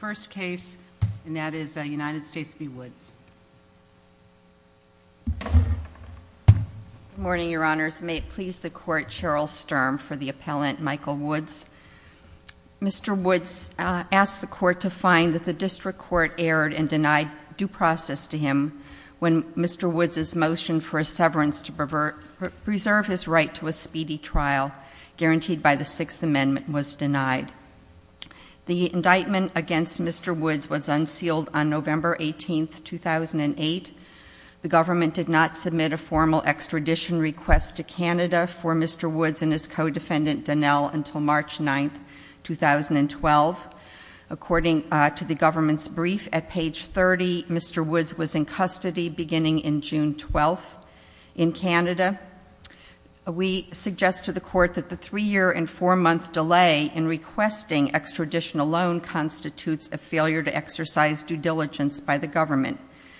Good morning, your honors. May it please the court, Cheryl Sturm for the appellant, Michael Woods. Mr. Woods asked the court to find that the district court erred and denied due process to him when Mr. Woods' motion for a severance to preserve his right to a speedy trial guaranteed by the Sixth Amendment was denied. The indictment against Mr. Woods was unsealed on November 18, 2008. The government did not submit a formal extradition request to Canada for Mr. Woods and his co-defendant, Donnell, until March 9, 2012. According to the government's brief, at page 30, Mr. Woods was in custody beginning in June 12 in Canada. We suggest to the court that the 3-year and 4-month delay in requesting extradition alone constitutes a failure to exercise due diligence by the government.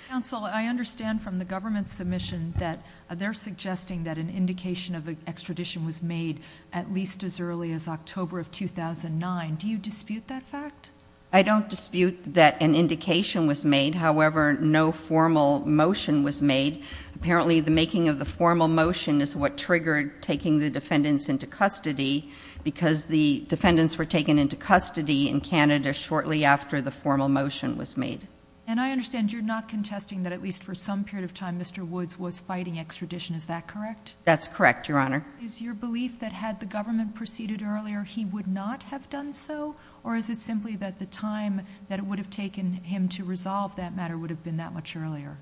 Counsel, I understand from the government's submission that they're suggesting that an indication of extradition was made at least as early as October of 2009. Do you dispute that fact? I don't dispute that an indication was made. However, no formal motion was made. Apparently, the making of the formal motion is what triggered taking the defendants into custody because the defendants were taken into custody in Canada shortly after the formal motion was made. And I understand you're not contesting that at least for some period of time Mr. Woods was fighting extradition, is that correct? That's correct, Your Honor. Is your belief that had the government proceeded earlier he would not have done so? Or is it simply that the time that it would have taken him to resolve that matter would have been that much earlier?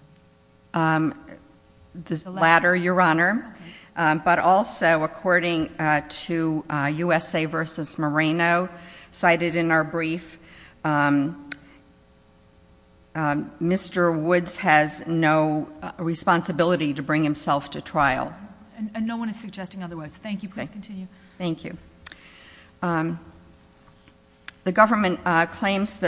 The latter, Your Honor. But also, according to USA vs. Moreno cited in our brief, Mr. Woods has no responsibility to bring himself to trial. And no one is suggesting otherwise. Thank you. Please continue. Thank you.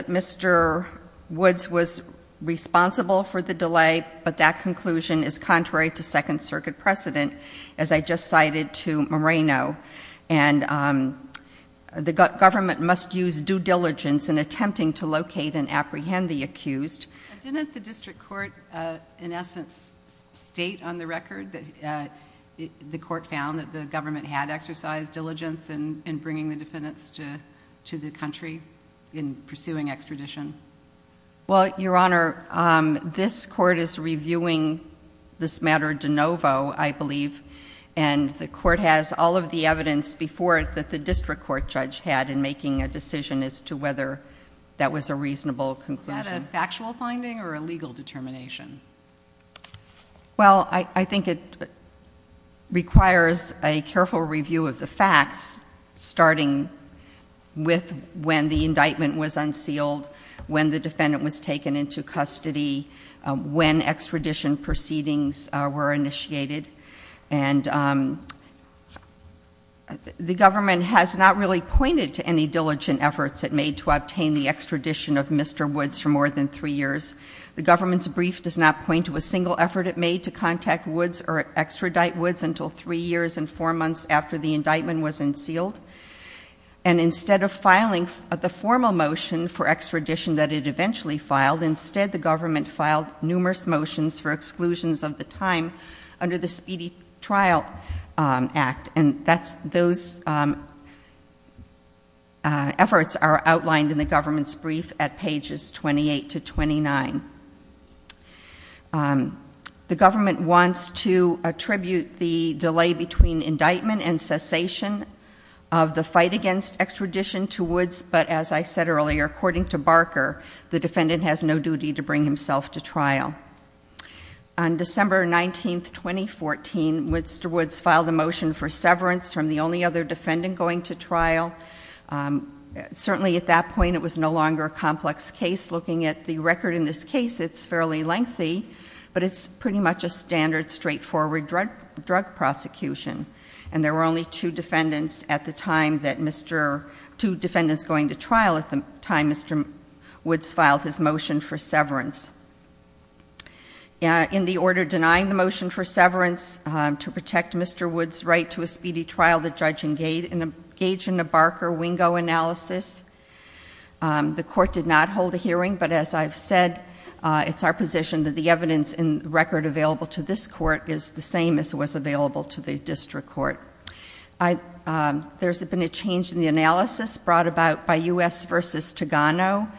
Mr. Woods was responsible for the delay, but that conclusion is contrary to Second Circuit precedent, as I just cited to Moreno. And the government must use due diligence in attempting to locate and apprehend the accused. Didn't the district court in essence state on the record that the court found that the government had exercised diligence in pursuing extradition? Well, Your Honor, this Court is reviewing this matter de novo, I believe, and the Court has all of the evidence before it that the district court judge had in making a decision as to whether that was a reasonable conclusion. Is that a factual finding or a legal determination? Well, I think it requires a careful review of the facts, starting with when the indictment was unsealed, when the defendant was taken into custody, when extradition proceedings were initiated. And the government has not really pointed to any diligent efforts it made to obtain the extradition of Mr. Woods for more than three years. The government's brief does not point to a single effort it made to contact Woods or extradite Woods until three years and four months after the indictment was unsealed. And instead of filing the formal motion for extradition that it eventually filed, instead the government filed numerous motions for exclusions of the time under the Speedy Trial Act. And those efforts are outlined in the government's brief at pages 28 to 29. The government wants to attribute the diligence and delay between indictment and cessation of the fight against extradition to Woods, but as I said earlier, according to Barker, the defendant has no duty to bring himself to trial. On December 19, 2014, Mr. Woods filed a motion for severance from the only other defendant going to trial. Certainly at that point it was no longer a complex case. Looking at the record in this case, it's fairly lengthy, but it's pretty much a standard, straightforward drug prosecution. And there were only two defendants going to trial at the time Mr. Woods filed his motion for severance. In the order denying the motion for severance to protect Mr. Woods' right to a speedy trial, the judge engaged in a Barker-Wingo analysis. The court did not hold a hearing, but as I've said, it's our position that the evidence in the record available to this court is the same as was available to the district court. There's been a change in the analysis brought about by U.S. v. Togano,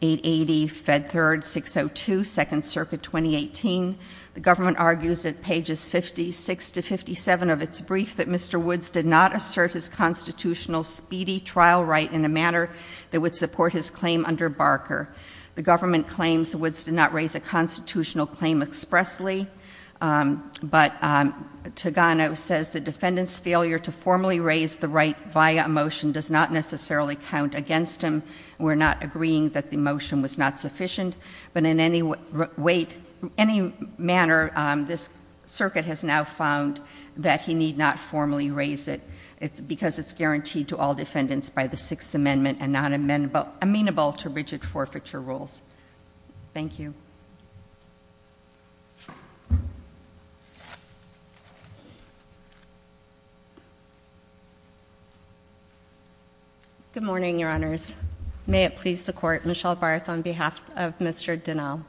880 Fed Third 602, Second Circuit, 2018. The government argues at pages 56 to 57 of its brief that Mr. Woods did not assert his constitutional speedy trial right in a manner that would support his claim under Barker. The government claims Woods did not raise a constitutional claim expressly, but Togano says the defendant's failure to formally raise the right via a motion does not necessarily count against him. We're not agreeing that the motion was not sufficient, but in any manner, this circuit has now found that he need not formally raise it because it's guaranteed to all defendants by the Sixth Amendment and not amenable to rigid forfeiture rules. Thank you. Good morning, Your Honors. May it please the Court, Michelle Barth on behalf of Mr. Dinnall.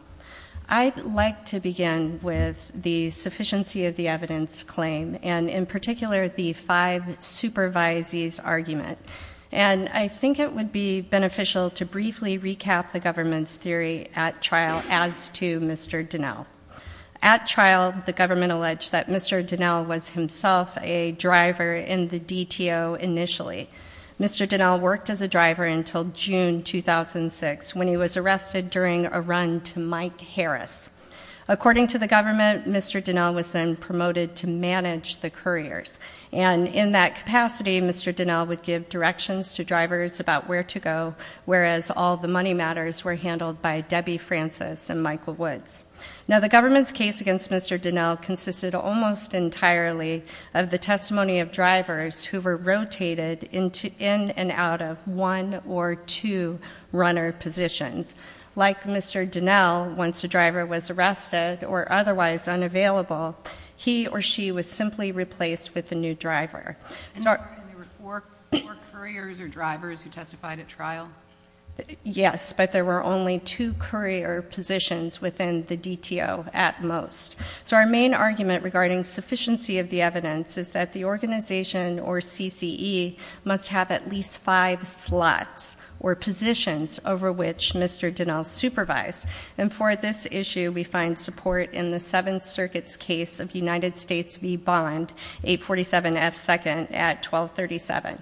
I'd like to begin with the sufficiency of the evidence claim, and in particular the five supervisees argument. And I think it would be beneficial to briefly recap the government's theory at trial as to Mr. Dinnall. At trial, the government alleged that Mr. Dinnall was himself a driver in the DTO initially. Mr. Dinnall worked as a driver until June 2006, when he was arrested during a run to Mike Harris. According to the government, Mr. Dinnall was then promoted to manage the couriers. And in that capacity, Mr. Dinnall would give directions to drivers about where to go, whereas all the money matters were handled by Debbie Francis and Michael Woods. Now, the government's case against Mr. Dinnall consisted almost entirely of the testimony of drivers who were rotated in and out of one or two runner positions. Like Mr. Dinnall, once a driver was arrested or otherwise unavailable, he or she was simply replaced with a new driver. And there were four couriers or drivers who testified at trial? Yes, but there were only two courier positions within the DTO at most. So our main argument regarding sufficiency of the evidence is that the organization or CCE must have at least five slots or positions over which Mr. Dinnall supervised. And for this issue, we find support in the Seventh Circuit's case of United States v. Bond, 847 F. 2nd at 1237.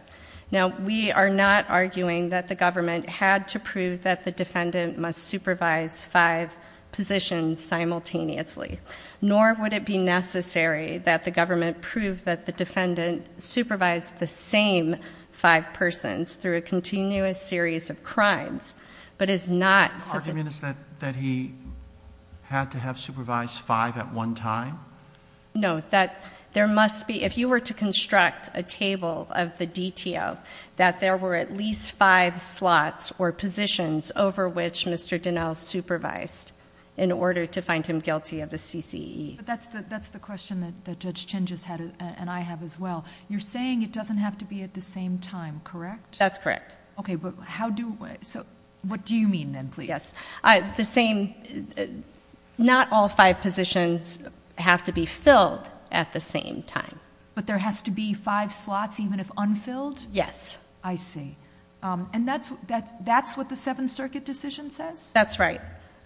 Now, we are not arguing that the government had to prove that the defendant must supervise five positions simultaneously, nor would it be necessary that the government prove that the defendant supervised the same five persons through a continuous series of crimes, but is not... The argument is that he had to have supervised five at one time? No, that there must be... if you were to construct a table of the DTO, that there were at least five slots or positions over which Mr. Dinnall supervised in order to find him guilty of the CCE. But that's the question that Judge Chin just had and I have as well. You're saying it doesn't have to be at the same time, correct? That's correct. Okay, but how do... so what do you mean then, please? The same... not all five positions have to be filled at the same time. But there has to be five slots even if unfilled? Yes. I see. And that's what the Seventh Circuit decision says? That's right.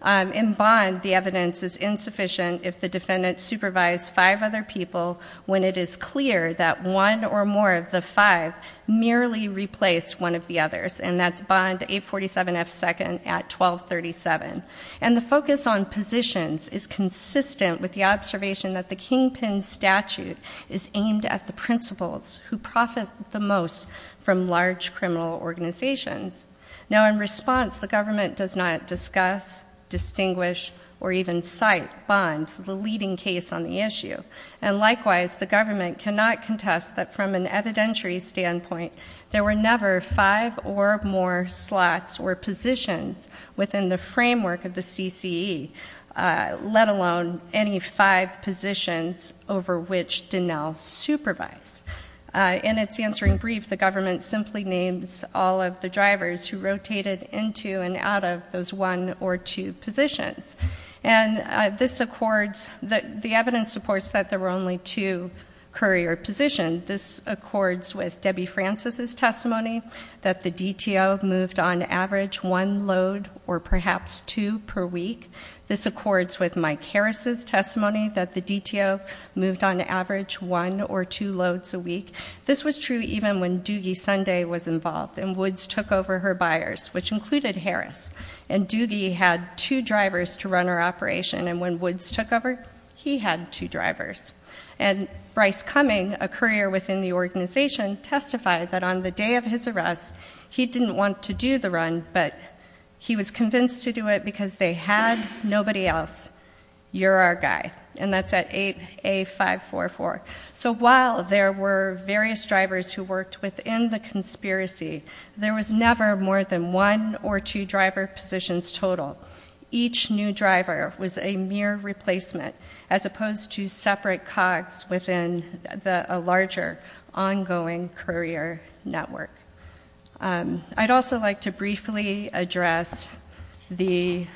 In bond, the evidence is insufficient if the defendant supervised five other people when it is clear that one or more of the five merely replaced one of the others, and that's bond 847F2nd at 1237. And the focus on positions is consistent with the observation that the Kingpin statute is aimed at the principals who profit the most from large criminal organizations. Now in response, the government does not discuss, distinguish, or even cite bond, the leading case on the issue. And likewise, the government cannot contest that from an evidentiary standpoint, there were never five or more slots or positions within the framework of the CCE, let alone any five positions over which Dinnall supervised. In its answering brief, the government simply names all of the drivers who rotated into and out of those one or two positions. And this accords... the evidence supports that there were only two courier positions. This accords with Debbie Francis' testimony that the DTO moved on average one load or perhaps two per week. This accords with Mike Harris' testimony that the DTO moved on average one or two loads a week. This was true even when Doogie Sunday was involved, and Woods took over her buyers, which included Harris. And Doogie had two drivers to run her operation, and when Woods took over, he had two drivers. And Bryce Cumming, a courier within the organization, testified that on the day of his arrest, he didn't want to do the run, but he was convinced to do it because they had nobody else. You're our guy. And that's at 8A544. So what does this mean? While there were various drivers who worked within the conspiracy, there was never more than one or two driver positions total. Each new driver was a mere replacement, as opposed to separate cogs within a larger ongoing courier network. I'd also like to briefly address the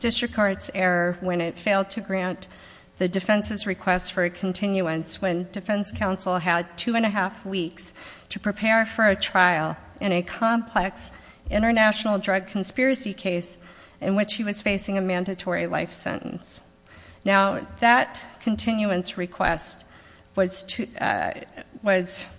district court's error when it failed to grant the defense's request for a continuance when defense counsel had two and a half weeks to prepare for a trial in a complex international drug conspiracy case in which he was facing a mandatory life sentence. Now, that continuance request was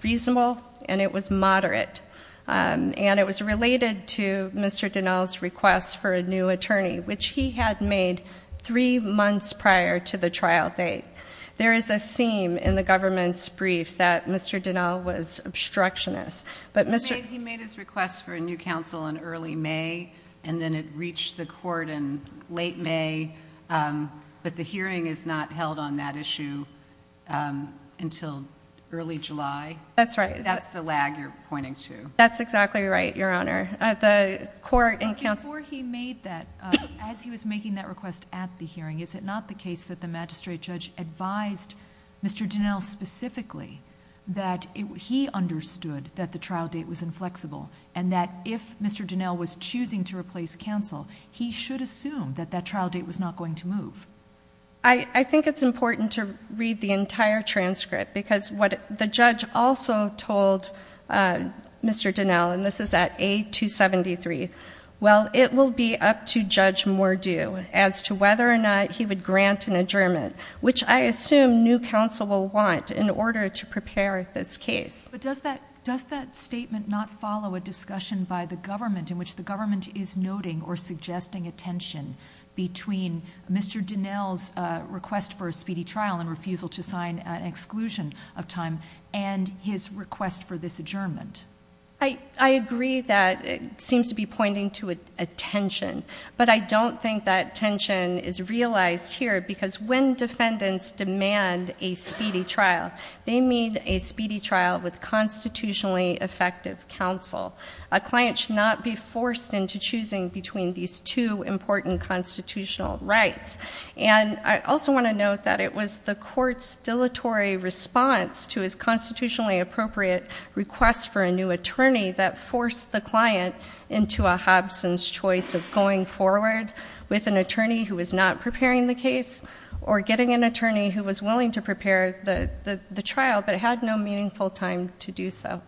reasonable, and it was moderate. And it was related to Mr. Dinell's request for a new attorney, which he had made three months prior to the trial date. There is a theme in the government's brief that Mr. Dinell was obstructionist. But he made his request for a new counsel in early May, and then it reached the court in late May. But the hearing is not held on that issue until early July. That's right. That's the lag you're pointing to. That's exactly right, Your Honor. The court and counsel... It's not the case that the magistrate judge advised Mr. Dinell specifically that he understood that the trial date was inflexible, and that if Mr. Dinell was choosing to replace counsel, he should assume that that trial date was not going to move. I think it's important to read the entire transcript, because what the judge also told Mr. Dinell, and this is at A273, well, it will be up to Judge Mordew as to whether or not he would grant an adjournment, which I assume new counsel will want in order to prepare this case. Does that statement not follow a discussion by the government in which the government is noting or suggesting a tension between Mr. Dinell's request for a speedy trial and refusal to sign an exclusion of time and his request for this adjournment? I agree that it seems to be pointing to a tension, but I don't think that tension is realized here, because when defendants demand a speedy trial, they mean a speedy trial with constitutionally effective counsel. A client should not be forced into choosing between these two important constitutional rights. And I also want to note that it was the court's dilatory response to his constitutionally appropriate request for a new attorney that forced the client into a Hobson's choice of going forward with an attorney who was not preparing the case or getting an attorney who was willing to prepare the trial but had no meaningful time to do so.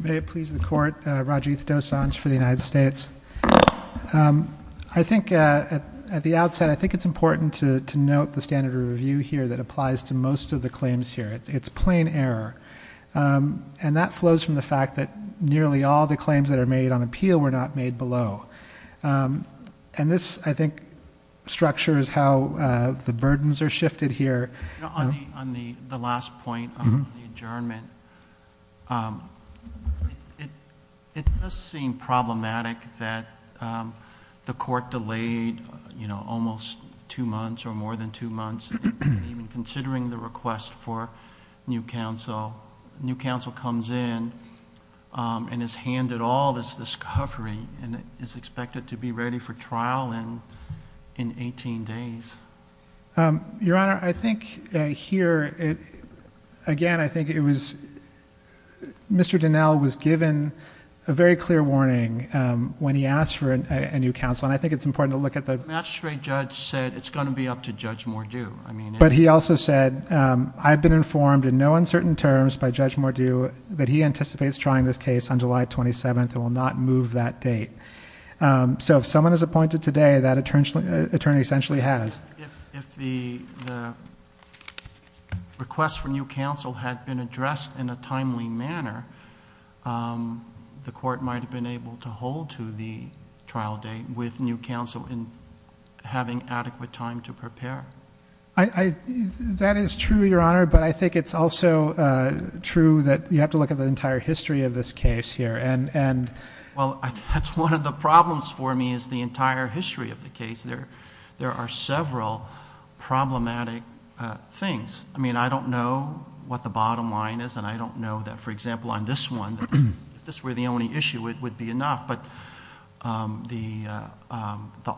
May it please the court. Rajiv Dosanjh for the United States. I think at the outset, I think it's important to note the standard of review here that applies to most of the claims here. It's plain error. And that flows from the fact that nearly all the claims that are made on appeal were not made below. And this, I think, structures how the burdens are shifted here. On the last point on the adjournment, it does seem problematic that the court delayed almost two months or more than two months, even considering the request for new counsel. New counsel comes in and is handed all this discovery and is expected to be ready for trial in 18 days. Your Honor, I think here, again, I think it was, Mr. Donnell was given a very clear warning when he asked for a new counsel. And I think it's important to look at the- The magistrate judge said it's going to be up to Judge Mordew. But he also said, I've been informed in no uncertain terms by Judge Mordew that he anticipates trying this case on July 27th and will not move that date. So if someone is appointed today, that attorney essentially has. If the request for new counsel had been addressed in a timely manner, the court might have been able to hold to the trial date with new counsel in having adequate time to prepare. That is true, Your Honor. But I think it's also true that you have to look at the entire history of this case here. Well, that's one of the problems for me, is the entire history of the case. There are several problematic things. I mean, I don't know what the bottom line is. And I don't know if it's enough, but the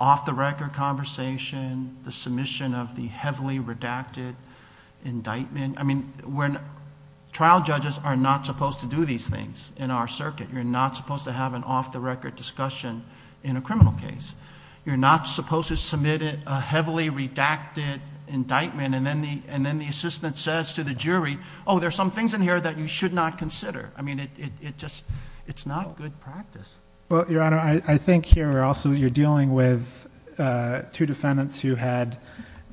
off-the-record conversation, the submission of the heavily redacted indictment. I mean, trial judges are not supposed to do these things in our circuit. You're not supposed to have an off-the-record discussion in a criminal case. You're not supposed to submit a heavily redacted indictment. And then the assistant says to the jury, oh, there's some things in here that you should not consider. I mean, it just, it's not good practice. Well, Your Honor, I think here also you're dealing with two defendants who had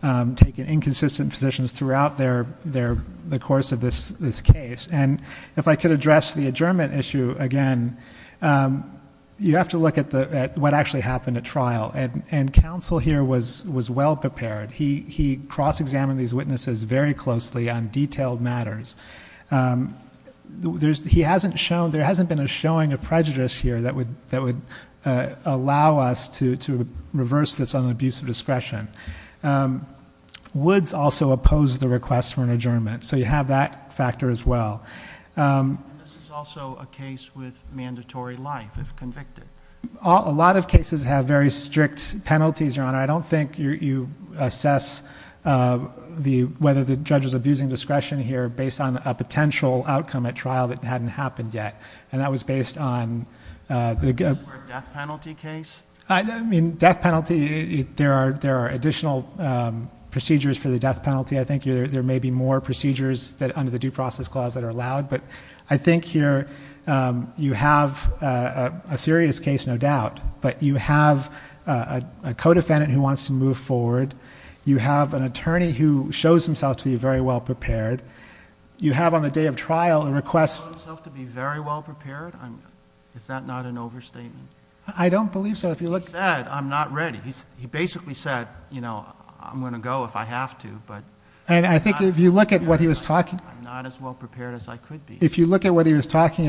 taken inconsistent positions throughout the course of this case. And if I could address the adjournment issue again, you have to look at what actually happened at trial. And counsel here was well prepared. He cross-examined these witnesses very closely on detailed matters. He hasn't shown, there hasn't been a showing of prejudice here that would allow us to reverse this on the abuse of discretion. Woods also opposed the request for an adjournment. So you have that factor as well. And this is also a case with mandatory life if convicted. A lot of cases have very strict penalties, Your Honor. I don't think you assess whether the judge is abusing discretion here based on a potential outcome at trial that hadn't happened yet. And that was based on the death penalty case. I mean, death penalty, there are additional procedures for the death penalty. I think there may be more procedures under the due process clause that are allowed. But I think here you have a serious case, no doubt. But you have a co-defendant who wants to move forward. You have an attorney who shows himself to be very well prepared. You have on the day of trial a request. He showed himself to be very well prepared? Is that not an overstatement? I don't believe so. He said, I'm not ready. He basically said, you know, I'm going to go if I have to. And I think if you look at what he was talking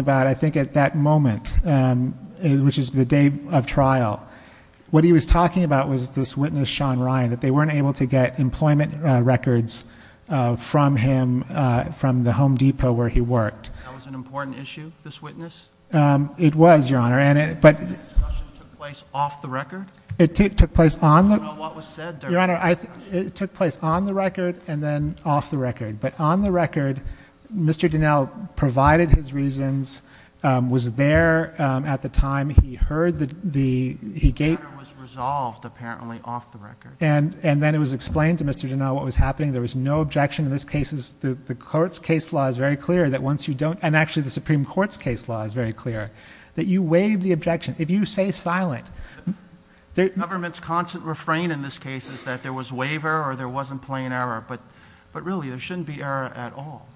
about, I think at that moment, which is the day of trial, what he was talking about was this witness, Sean Ryan, that they weren't able to get employment records from him from the Home Depot where he worked. That was an important issue, this witness? It was, Your Honor. And that discussion took place off the record? It took place on the record and then off the record. But on the record, Mr. Dinell provided his reasons, was there at the time he heard the... The matter was resolved, apparently, off the record. And then it was explained to Mr. Dinell what was happening. There was no objection in this case. The court's case law is very clear that once you don't... And actually the Supreme Court's case law is very clear that you waive the objection if you say silent. Government's constant refrain in this case is that there was waiver or there wasn't plain error. But really, there shouldn't be error at all.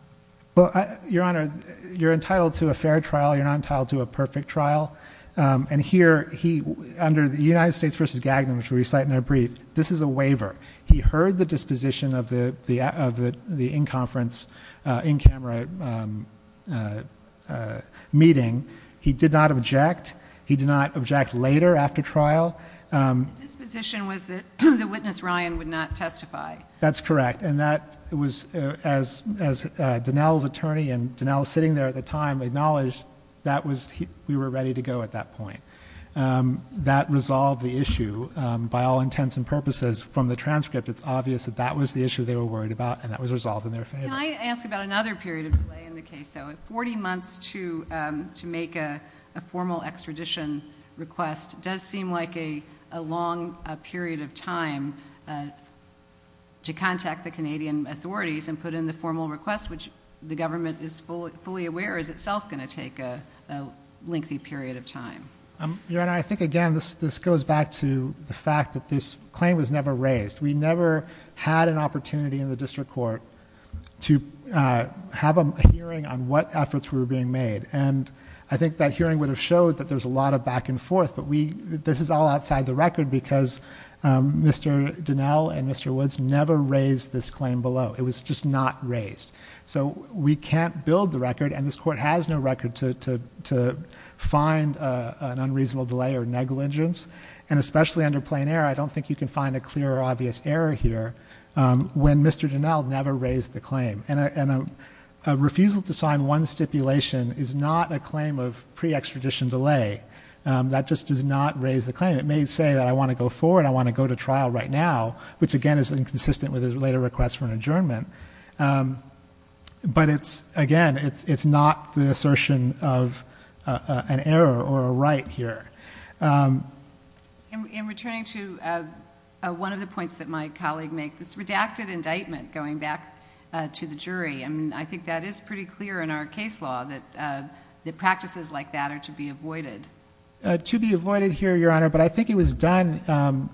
Your Honor, you're entitled to a fair trial. You're not entitled to a perfect trial. And here, under the United States v. Gagnon, which we recite in our brief, this is a waiver. He heard the disposition of the in-conference, in-camera meeting. He did not object. He did not object later after trial. The disposition was that the witness, Ryan, would not testify. That's correct. And that was... As Dinell's attorney and Dinell sitting there at the time acknowledged, that was... We were ready to go at that point. That resolved the issue by all intents and purposes. From the transcript, it's obvious that that was the issue they were worried about, and that was resolved in their favor. Can I ask about another period of delay in the case, though? Forty months to make a formal extradition request does seem like a long period of time to contact the Canadian authorities and put in the formal request, which the government is fully aware is itself going to take a lengthy period of time. Your Honor, I think, again, this goes back to the fact that this claim was never raised. We never had an opportunity in the district court to have a hearing on what efforts were being made. And I think that hearing would have showed that there's a lot of back and forth, but this is all outside the record because Mr. Dinell and Mr. Woods never raised this claim below. It was just not raised. So we can't build the record, and this court has no record to find an unreasonable delay or negligence. And especially under plain error, I don't think you can find a clear or obvious error here when Mr. Dinell never raised the claim. And a refusal to sign one stipulation is not a claim of pre-extradition delay. That just does not raise the claim. It may say that I want to go forward, I want to go to trial right now, which, again, is inconsistent with his later request for an adjournment. But it's, again, it's not the assertion of an error or a right here. In returning to one of the points that my colleague made, this redacted indictment going back to the jury, I mean, I think that is pretty clear in our case law that practices like that are to be avoided. To be avoided here, Your Honor, but I think it was done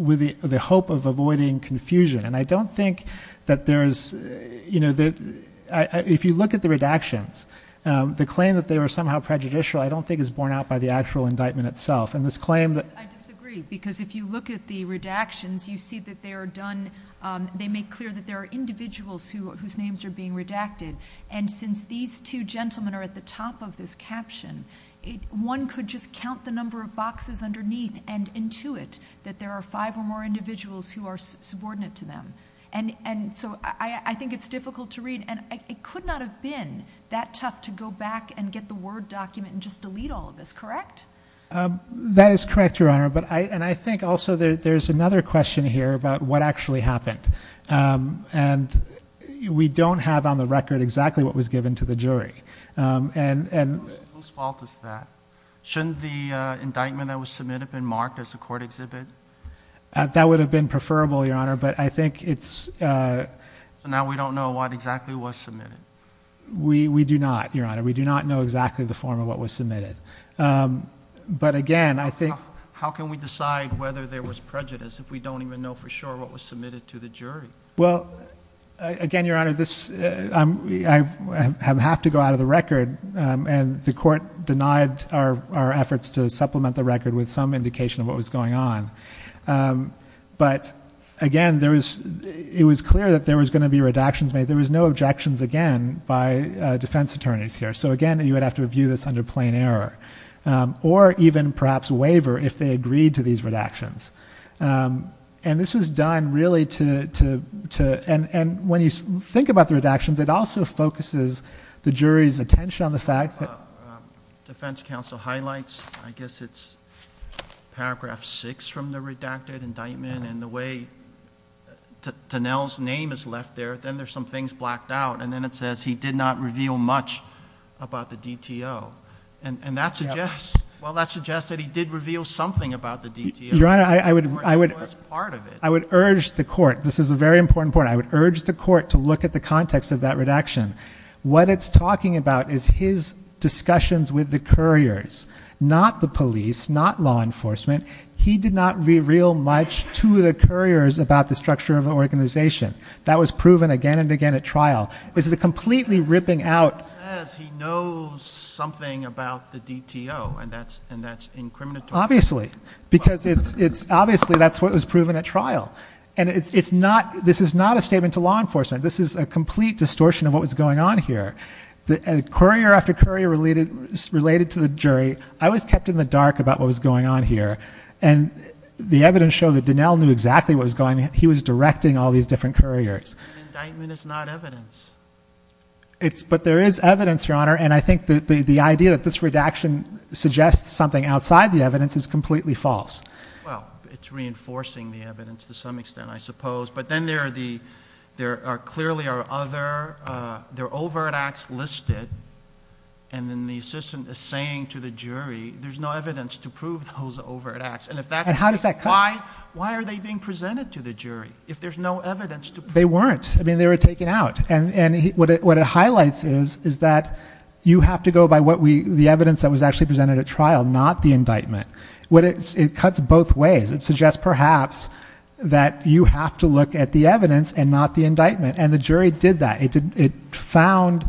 with the hope of avoiding confusion. And I don't think that there is, you know, if you look at the redactions, the claim that they were somehow prejudicial I don't think is borne out by the actual indictment itself. And this claim that I disagree, because if you look at the redactions, you see that they are done, they make clear that there are individuals whose names are being redacted. And since these two gentlemen are at the top of this caption, one could just count the number of boxes underneath and intuit that there are five or more individuals who are subordinate to them. And so I think it's difficult to read. And it could not have been that tough to go back and get the Word document and just delete all of this, correct? That is correct, Your Honor. And I think also there's another question here about what actually happened. And we don't have on the record exactly what was given to the jury. Whose fault is that? Shouldn't the indictment that was submitted have been marked as a court exhibit? That would have been preferable, Your Honor, but I think it's So now we don't know what exactly was submitted. We do not, Your Honor. We do not know exactly the form of what was submitted. But again, I think How can we decide whether there was prejudice if we don't even know for sure what was submitted Well, again, Your Honor, I have to go out of the record. And the court denied our efforts to supplement the record with some indication of what was going on. But again, it was clear that there was going to be redactions made. There was no objections, again, by defense attorneys here. So again, you would have to review this under plain error or even perhaps a waiver if they agreed to these redactions. And this was done really to, and when you think about the redactions, it also focuses the jury's attention on the fact that Defense counsel highlights, I guess it's paragraph six from the redacted indictment. And the way Tonell's name is left there, then there's some things blacked out. And then it says he did not reveal much about the DTO. And that suggests that he did reveal something about the DTO. Your Honor, I would urge the court, this is a very important point, I would urge the court to look at the context of that redaction. What it's talking about is his discussions with the couriers, not the police, not law enforcement. He did not reveal much to the couriers about the structure of the organization. That was proven again and again at trial. This is a completely ripping out- He says he knows something about the DTO and that's incriminatory. Obviously. Because it's, obviously that's what was proven at trial. And it's not, this is not a statement to law enforcement. This is a complete distortion of what was going on here. Courier after courier related to the jury, I was kept in the dark about what was going on here. And the evidence showed that Donnell knew exactly what was going on. He was directing all these different couriers. But an indictment is not evidence. But there is evidence, Your Honor. And I think the idea that this redaction suggests something outside the evidence is completely false. Well, it's reinforcing the evidence to some extent, I suppose. But then there are clearly are other, there are overt acts listed. And then the assistant is saying to the jury, there's no evidence to prove those overt acts. And if that's- And how does that come- Why are they being presented to the jury? If there's no evidence to prove- They weren't. I mean, they were taken out. And what it highlights is, is that you have to go by what we, the evidence that was actually presented at trial, not the indictment. It cuts both ways. It suggests perhaps that you have to look at the evidence and not the indictment. And the jury did that. It found,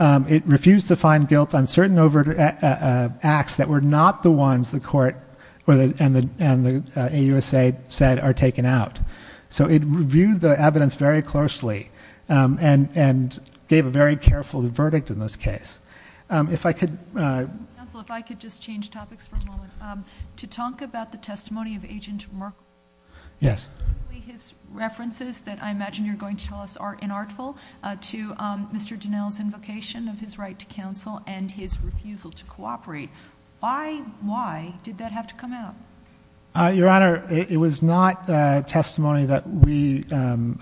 it refused to find guilt on certain overt acts that were not the ones the court and the AUSA said are taken out. So it reviewed the evidence very closely and gave a very careful verdict in this case. If I could- Counsel, if I could just change topics for a moment. To talk about the testimony of Agent Merkel- Yes. His references that I imagine you're going to tell us are inartful to Mr. Dinell's invocation of his right to counsel and his refusal to cooperate. Why, why did that have to come out? Your Honor, it was not a testimony that we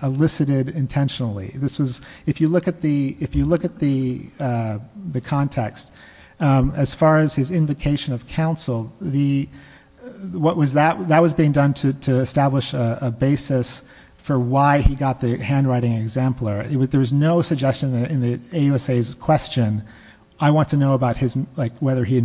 elicited intentionally. This was, if you look at the, if you look at the, the context, as far as his invocation of counsel, the, what was that, that was being done to, to establish a basis for why he got the handwriting exemplar. There was no suggestion in the AUSA's question, I want to know about his, like whether he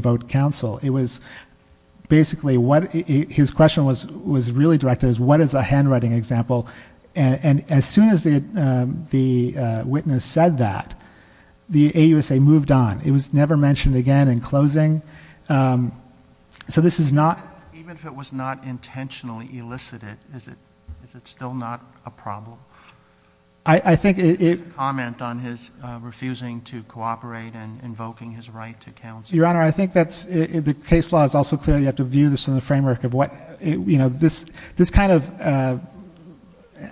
his question was, was really directed as what is a handwriting example? And as soon as the, the witness said that, the AUSA moved on. It was never mentioned again in closing. So this is not- Even if it was not intentionally elicited, is it, is it still not a problem? I think it- His comment on his refusing to cooperate and invoking his right to counsel. Your Honor, I think that's, the case law is also clear. You have to view this in the framework of what, you know, this, this kind of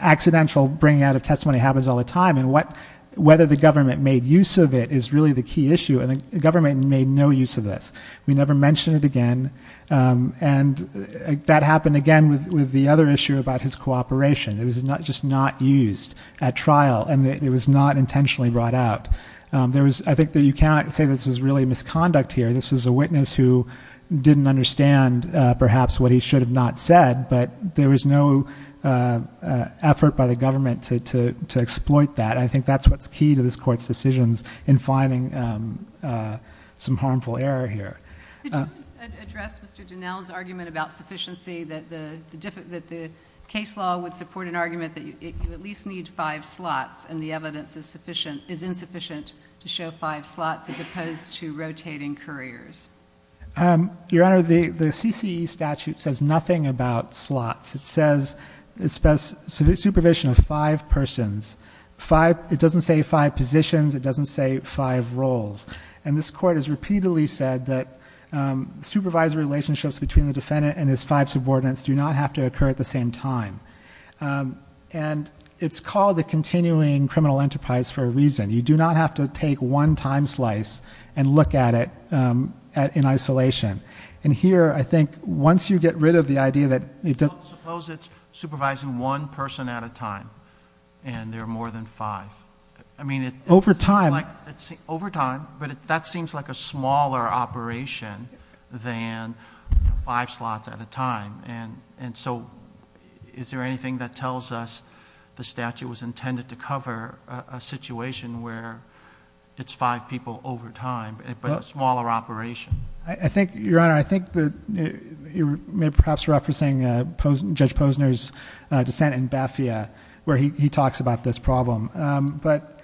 accidental bringing out of testimony happens all the time and what, whether the government made use of it is really the key issue. And the government made no use of this. We never mentioned it again. And that happened again with, with the other issue about his cooperation. It was not, just not used at trial and it was not intentionally brought out. There was, I think that you cannot say this was really a misconduct here. This was a witness who didn't understand perhaps what he should have not said, but there was no effort by the government to, to, to exploit that. I think that's what's key to this court's decisions in finding some harmful error here. Could you address Mr. Donnell's argument about sufficiency, that the, that the case law would support an argument that you at least need five slots and the evidence is sufficient, is insufficient to show five slots as opposed to rotating couriers? Your Honor, the, the CCE statute says nothing about slots. It says it's best supervision of five persons, five. It doesn't say five positions. It doesn't say five roles. And this court has repeatedly said that supervisor relationships between the defendant and his five subordinates do not have to occur at the same time. And it's called the continuing criminal enterprise for a reason. You do not have to take one time slice and look at it, um, at, in isolation. And here, I think once you get rid of the idea that it doesn't Suppose it's supervising one person at a time and there are more than five. I mean, it over time, like it's over time, but that seems like a smaller operation than five slots at a time. And, and so is there anything that tells us the statute was intended to cover a situation where it's five people over time, but a smaller operation? I think Your Honor, I think that you're perhaps referencing Judge Posner's dissent in Bafia where he talks about this problem. Um, but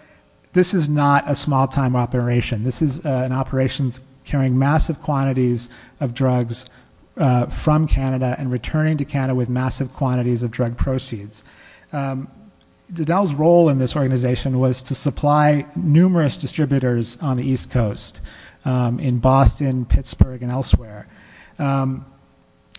this is not a small time operation. This is an operations carrying massive quantities of drugs, uh, from Canada and returning to Canada with massive quantities of drug proceeds. Um, the Dell's role in this organization was to supply numerous distributors on the East coast, um, in Boston, Pittsburgh and elsewhere. Um,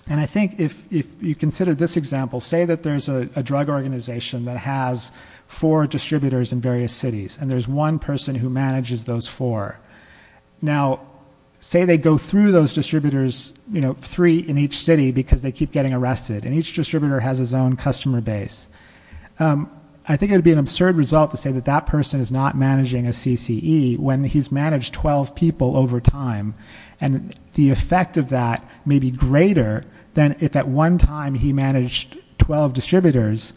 and I think if, if you consider this example, say that there's a drug organization that has four distributors in various cities and there's one person who manages those four. Now say they go through those distributors, you know, three in each city because they keep getting arrested and each distributor has his own customer base. Um, I think it would be an absurd result to say that that person is not managing a CCE when he's managed 12 people over time. And the effect of that may be greater than if at one time he managed 12 distributors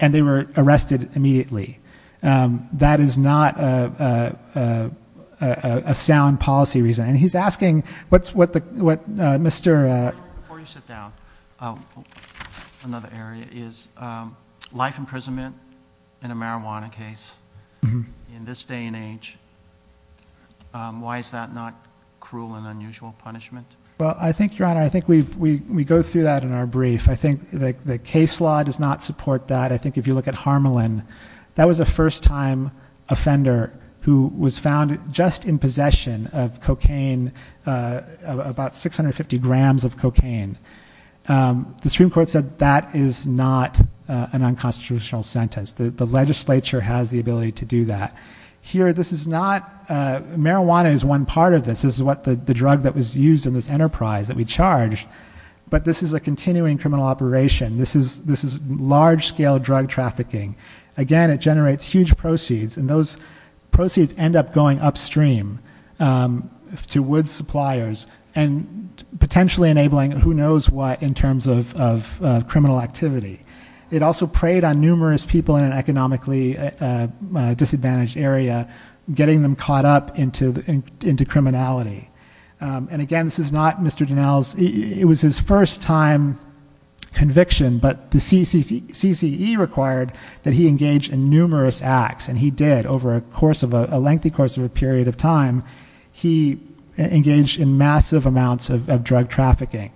and they were arrested immediately. Um, that is not a, a, a, a, a sound policy reason. And he's asking what's, what the, what, uh, Mr, uh, Before you sit down, um, another area is, um, life imprisonment in a marijuana case in this day and age. Um, why is that not cruel and unusual punishment? Well, I think your honor, I think we've, we, we go through that in our brief. I think the case law does not support that. I think if you look at Harmelin, that was a first time offender who was found just in possession of cocaine, uh, about 650 grams of cocaine. Um, the Supreme Court said that is not an unconstitutional sentence. The legislature has the ability to do that here. This is not, uh, marijuana is one part of this is what the, the drug that was used in this enterprise that we charged, but this is a continuing criminal operation. This is, this is large scale drug trafficking. Again, it generates huge proceeds and those proceeds end up going upstream, um, to woods suppliers and potentially enabling who knows what in terms of, of, uh, criminal activity. It also preyed on numerous people in an economically disadvantaged area, getting them caught up into the, into criminality. Um, and again, this is not Mr. Donnell's, it was his first time conviction, but the CCC, CCE required that he engaged in numerous acts and he did over a course of a lengthy course of a period of time. He engaged in massive amounts of, of drug trafficking.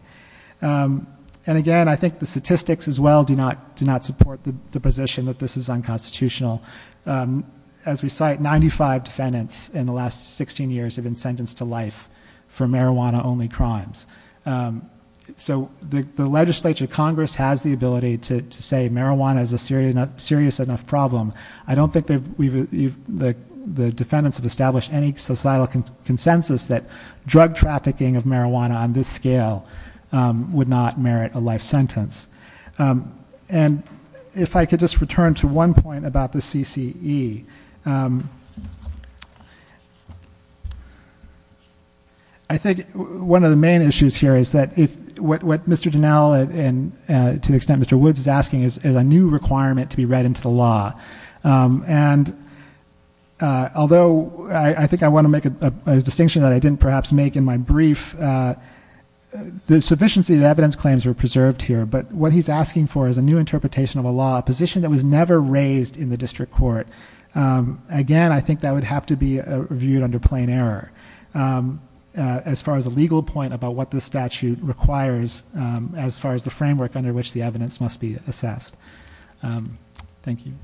Um, and again, I think the statistics as well do not, do not support the position that this is unconstitutional. Um, as we cite 95 defendants in the last 16 years have been sentenced to life for marijuana only crimes. Um, so the, the legislature, Congress has the ability to say marijuana is a serious enough problem. I don't think that we've, the defendants have established any societal consensus that drug trafficking of marijuana on this scale, um, would not merit a life sentence. Um, and if I could just return to one point about the CCC, CCE, um, I think one of the main issues here is that if, what, what Mr. Donnell and to the extent Mr. Woods is asking is, is a new requirement to be read into the law. Um, and uh, although I think I want to make a distinction that I didn't perhaps make in my brief, uh, the sufficiency of the evidence claims were preserved here, but what he's asking for is a new interpretation of a law position that was never raised in the district court. Um, again, I think that would have to be reviewed under plain error. Um, uh, as far as a legal point about what the statute requires, um, as far as the framework under which the evidence must be assessed. Um, thank you.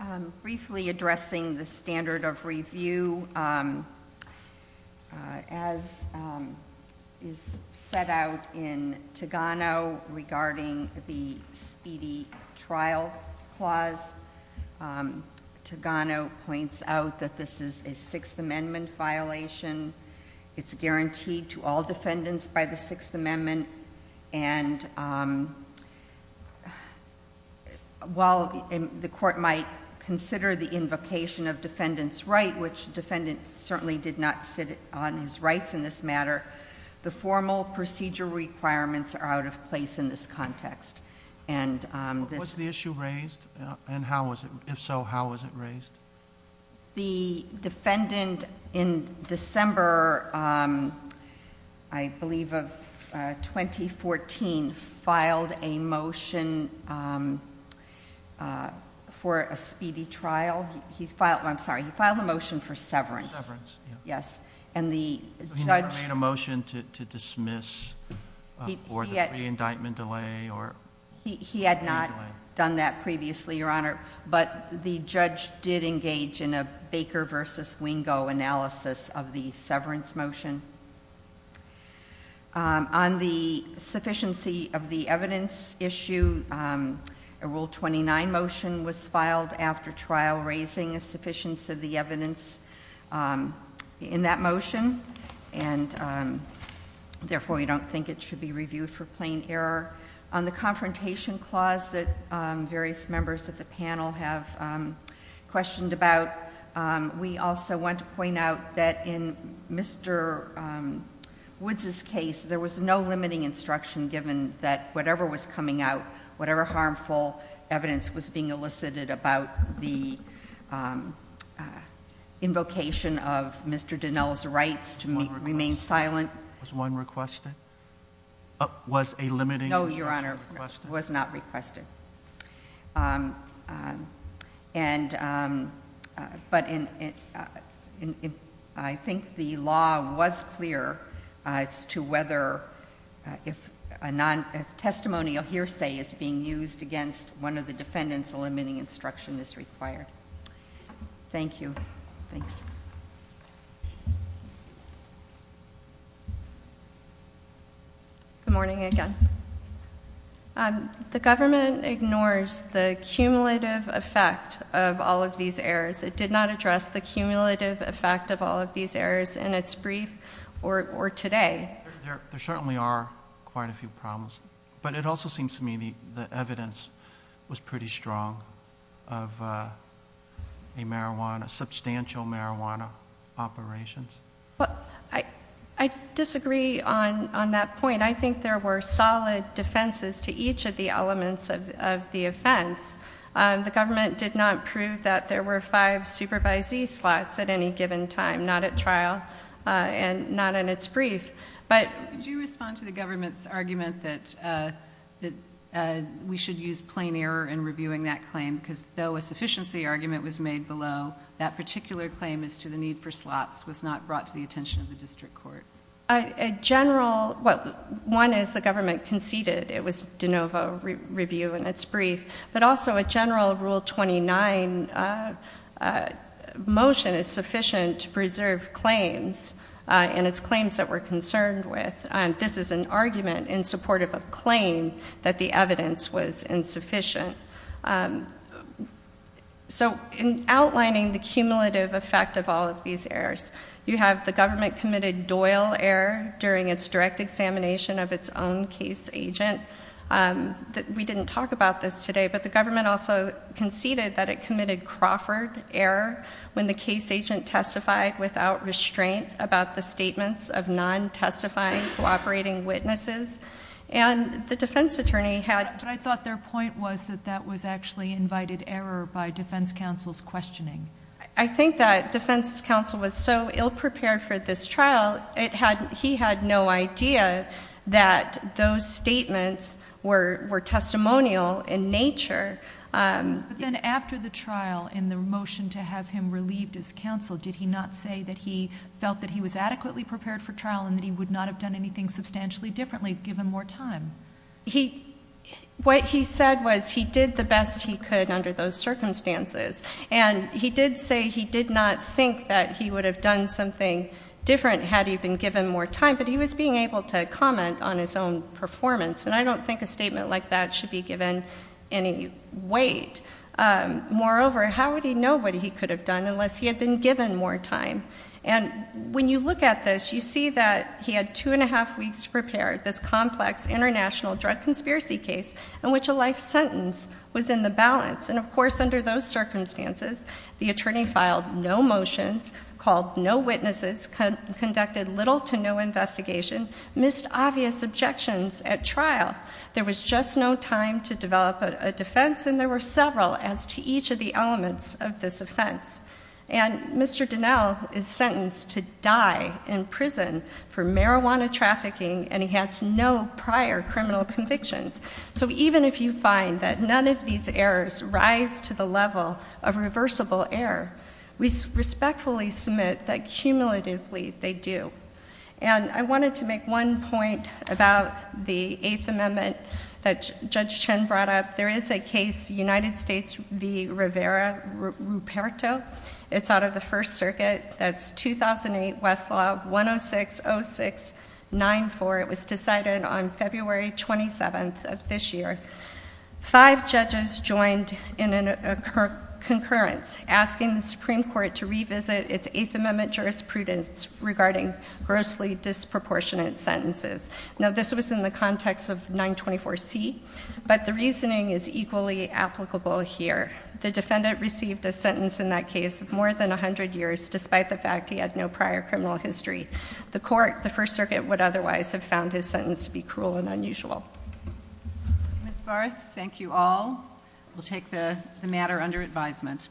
Um, briefly addressing the standard of review. Um, uh, as, um, is a, is a standard of review set out in Togano regarding the speedy trial clause. Um, Togano points out that this is a Sixth Amendment violation. It's guaranteed to all defendants by the Sixth Amendment. And, um, while the court might consider the invocation of defendant's right, which defendant certainly did not sit on his rights in this matter, the formal procedure requirements are out of place in this context. And, um, this... Was the issue raised? And how was it, if so, how was it raised? The defendant in December, um, I believe of, uh, 2014 filed a motion, um, uh, for a speedy trial. He, he filed, I'm sorry, he filed a motion for severance. Severance, yeah. Yes. And the judge... So he never made a motion to, to dismiss, uh, or the pre-indictment delay or... He, he had not done that previously, Your Honor. But the judge did engage in a Baker versus Wingo analysis of the severance motion. Um, on the sufficiency of the evidence issue, um, a Rule 29 motion was filed after trial, raising a sufficiency of the evidence, um, in that motion. And, um, therefore we don't think it should be reviewed for plain error. On the confrontation clause that, um, various members of the panel have, um, questioned about, um, we also want to point out that in Mr. um, Woods' case, there was no limiting instruction given that whatever was coming out, whatever harmful evidence was being elicited about the, um, uh, invocation of Mr. Dinell's rights to remain silent... Was one requested? Uh, was a limiting... No, Your Honor. Was not requested. Um, um, and, um, uh, but in, in, uh, in, in, I think the law was clear, uh, as to whether, uh, if a non... a testimonial hearsay is being used against one of the defendants, a limiting instruction is required. Thank you. Thanks. Good morning again. Um, the government ignores the cumulative effect of all of these errors. It did not address the cumulative effect of all of these errors in its brief or, or today. There, there certainly are quite a few problems, but it also seems to me the, the evidence was pretty strong of, uh, a marijuana, substantial marijuana operations. Well, I, I disagree on, on that point. I think there were solid defenses to each of the elements of, of the offense. Um, the government did not prove that there were five supervisee slots at any given time, not at trial, uh, and not in its brief. But... Could you respond to the government's argument that, uh, that, uh, we should use plain error in reviewing that claim because though a sufficiency argument was made below, that particular claim as to the need for slots was not brought to the attention of the district court? A general, well, one is the government conceded. It was de novo review in its brief, but also a general rule 29, uh, uh, motion is sufficient to preserve claims, uh, and it's claims that we're concerned with. Um, this is an argument in support of a claim that the evidence was insufficient. Um, so in outlining the cumulative effect of all of these errors, you have the government committed Doyle error during its direct examination of its own case agent. Um, that we didn't talk about this today, but the government also conceded that it committed Crawford error when the case agent testified without restraint about the statements of non-testifying cooperating witnesses. And the defense attorney had... But I thought their point was that that was actually invited error by defense counsel's questioning. I think that defense counsel was so ill-prepared for this trial, it had, he had no idea that those statements were, were testimonial in nature. Um... But then after the trial and the motion to have him relieved as counsel, did he not say that he felt that he was adequately prepared for trial and that he would not have done anything substantially differently given more time? He, what he said was he did the best he could under those circumstances. And he did say he did not think that he would have done something different had he been given more time, but he was being able to comment on his own performance. And I don't think a statement like that should be given any weight. Um, moreover, how would he know what he could have done unless he had been given more time? And when you look at this, you see that he had two and a half weeks to prepare this complex international drug conspiracy case in which a life sentence was in the balance. And of course, under those circumstances, the attorney filed no motions, called no witnesses, conducted little to no investigation, missed obvious objections at trial. There was just no time to develop a defense, and there were several as to each of the elements of this offense. And Mr. Donnell is sentenced to die in prison for marijuana trafficking, and he has no prior criminal convictions. So even if you find that none of these errors rise to the level of reversible error, we respectfully submit that cumulatively they do. And I wanted to make one point about the Eighth Amendment that Judge Chen brought up. There is a case, United States v. Rivera-Ruperto. It's out of the First Circuit. That's 2008 Westlaw 1060694. It was decided on February 27th of this year. Five judges joined in a concurrence, asking the Supreme Court to revisit its Eighth Amendment jurisprudence regarding grossly disproportionate sentences. Now this was in the context of 924C, but the reasoning is equally applicable here. The defendant received a sentence in that case of more than 100 years, despite the fact he had no prior criminal history. The court, the First Circuit, would otherwise have found his sentence to be cruel and unusual. Ms. Barth, thank you all. We'll take the matter under advisement.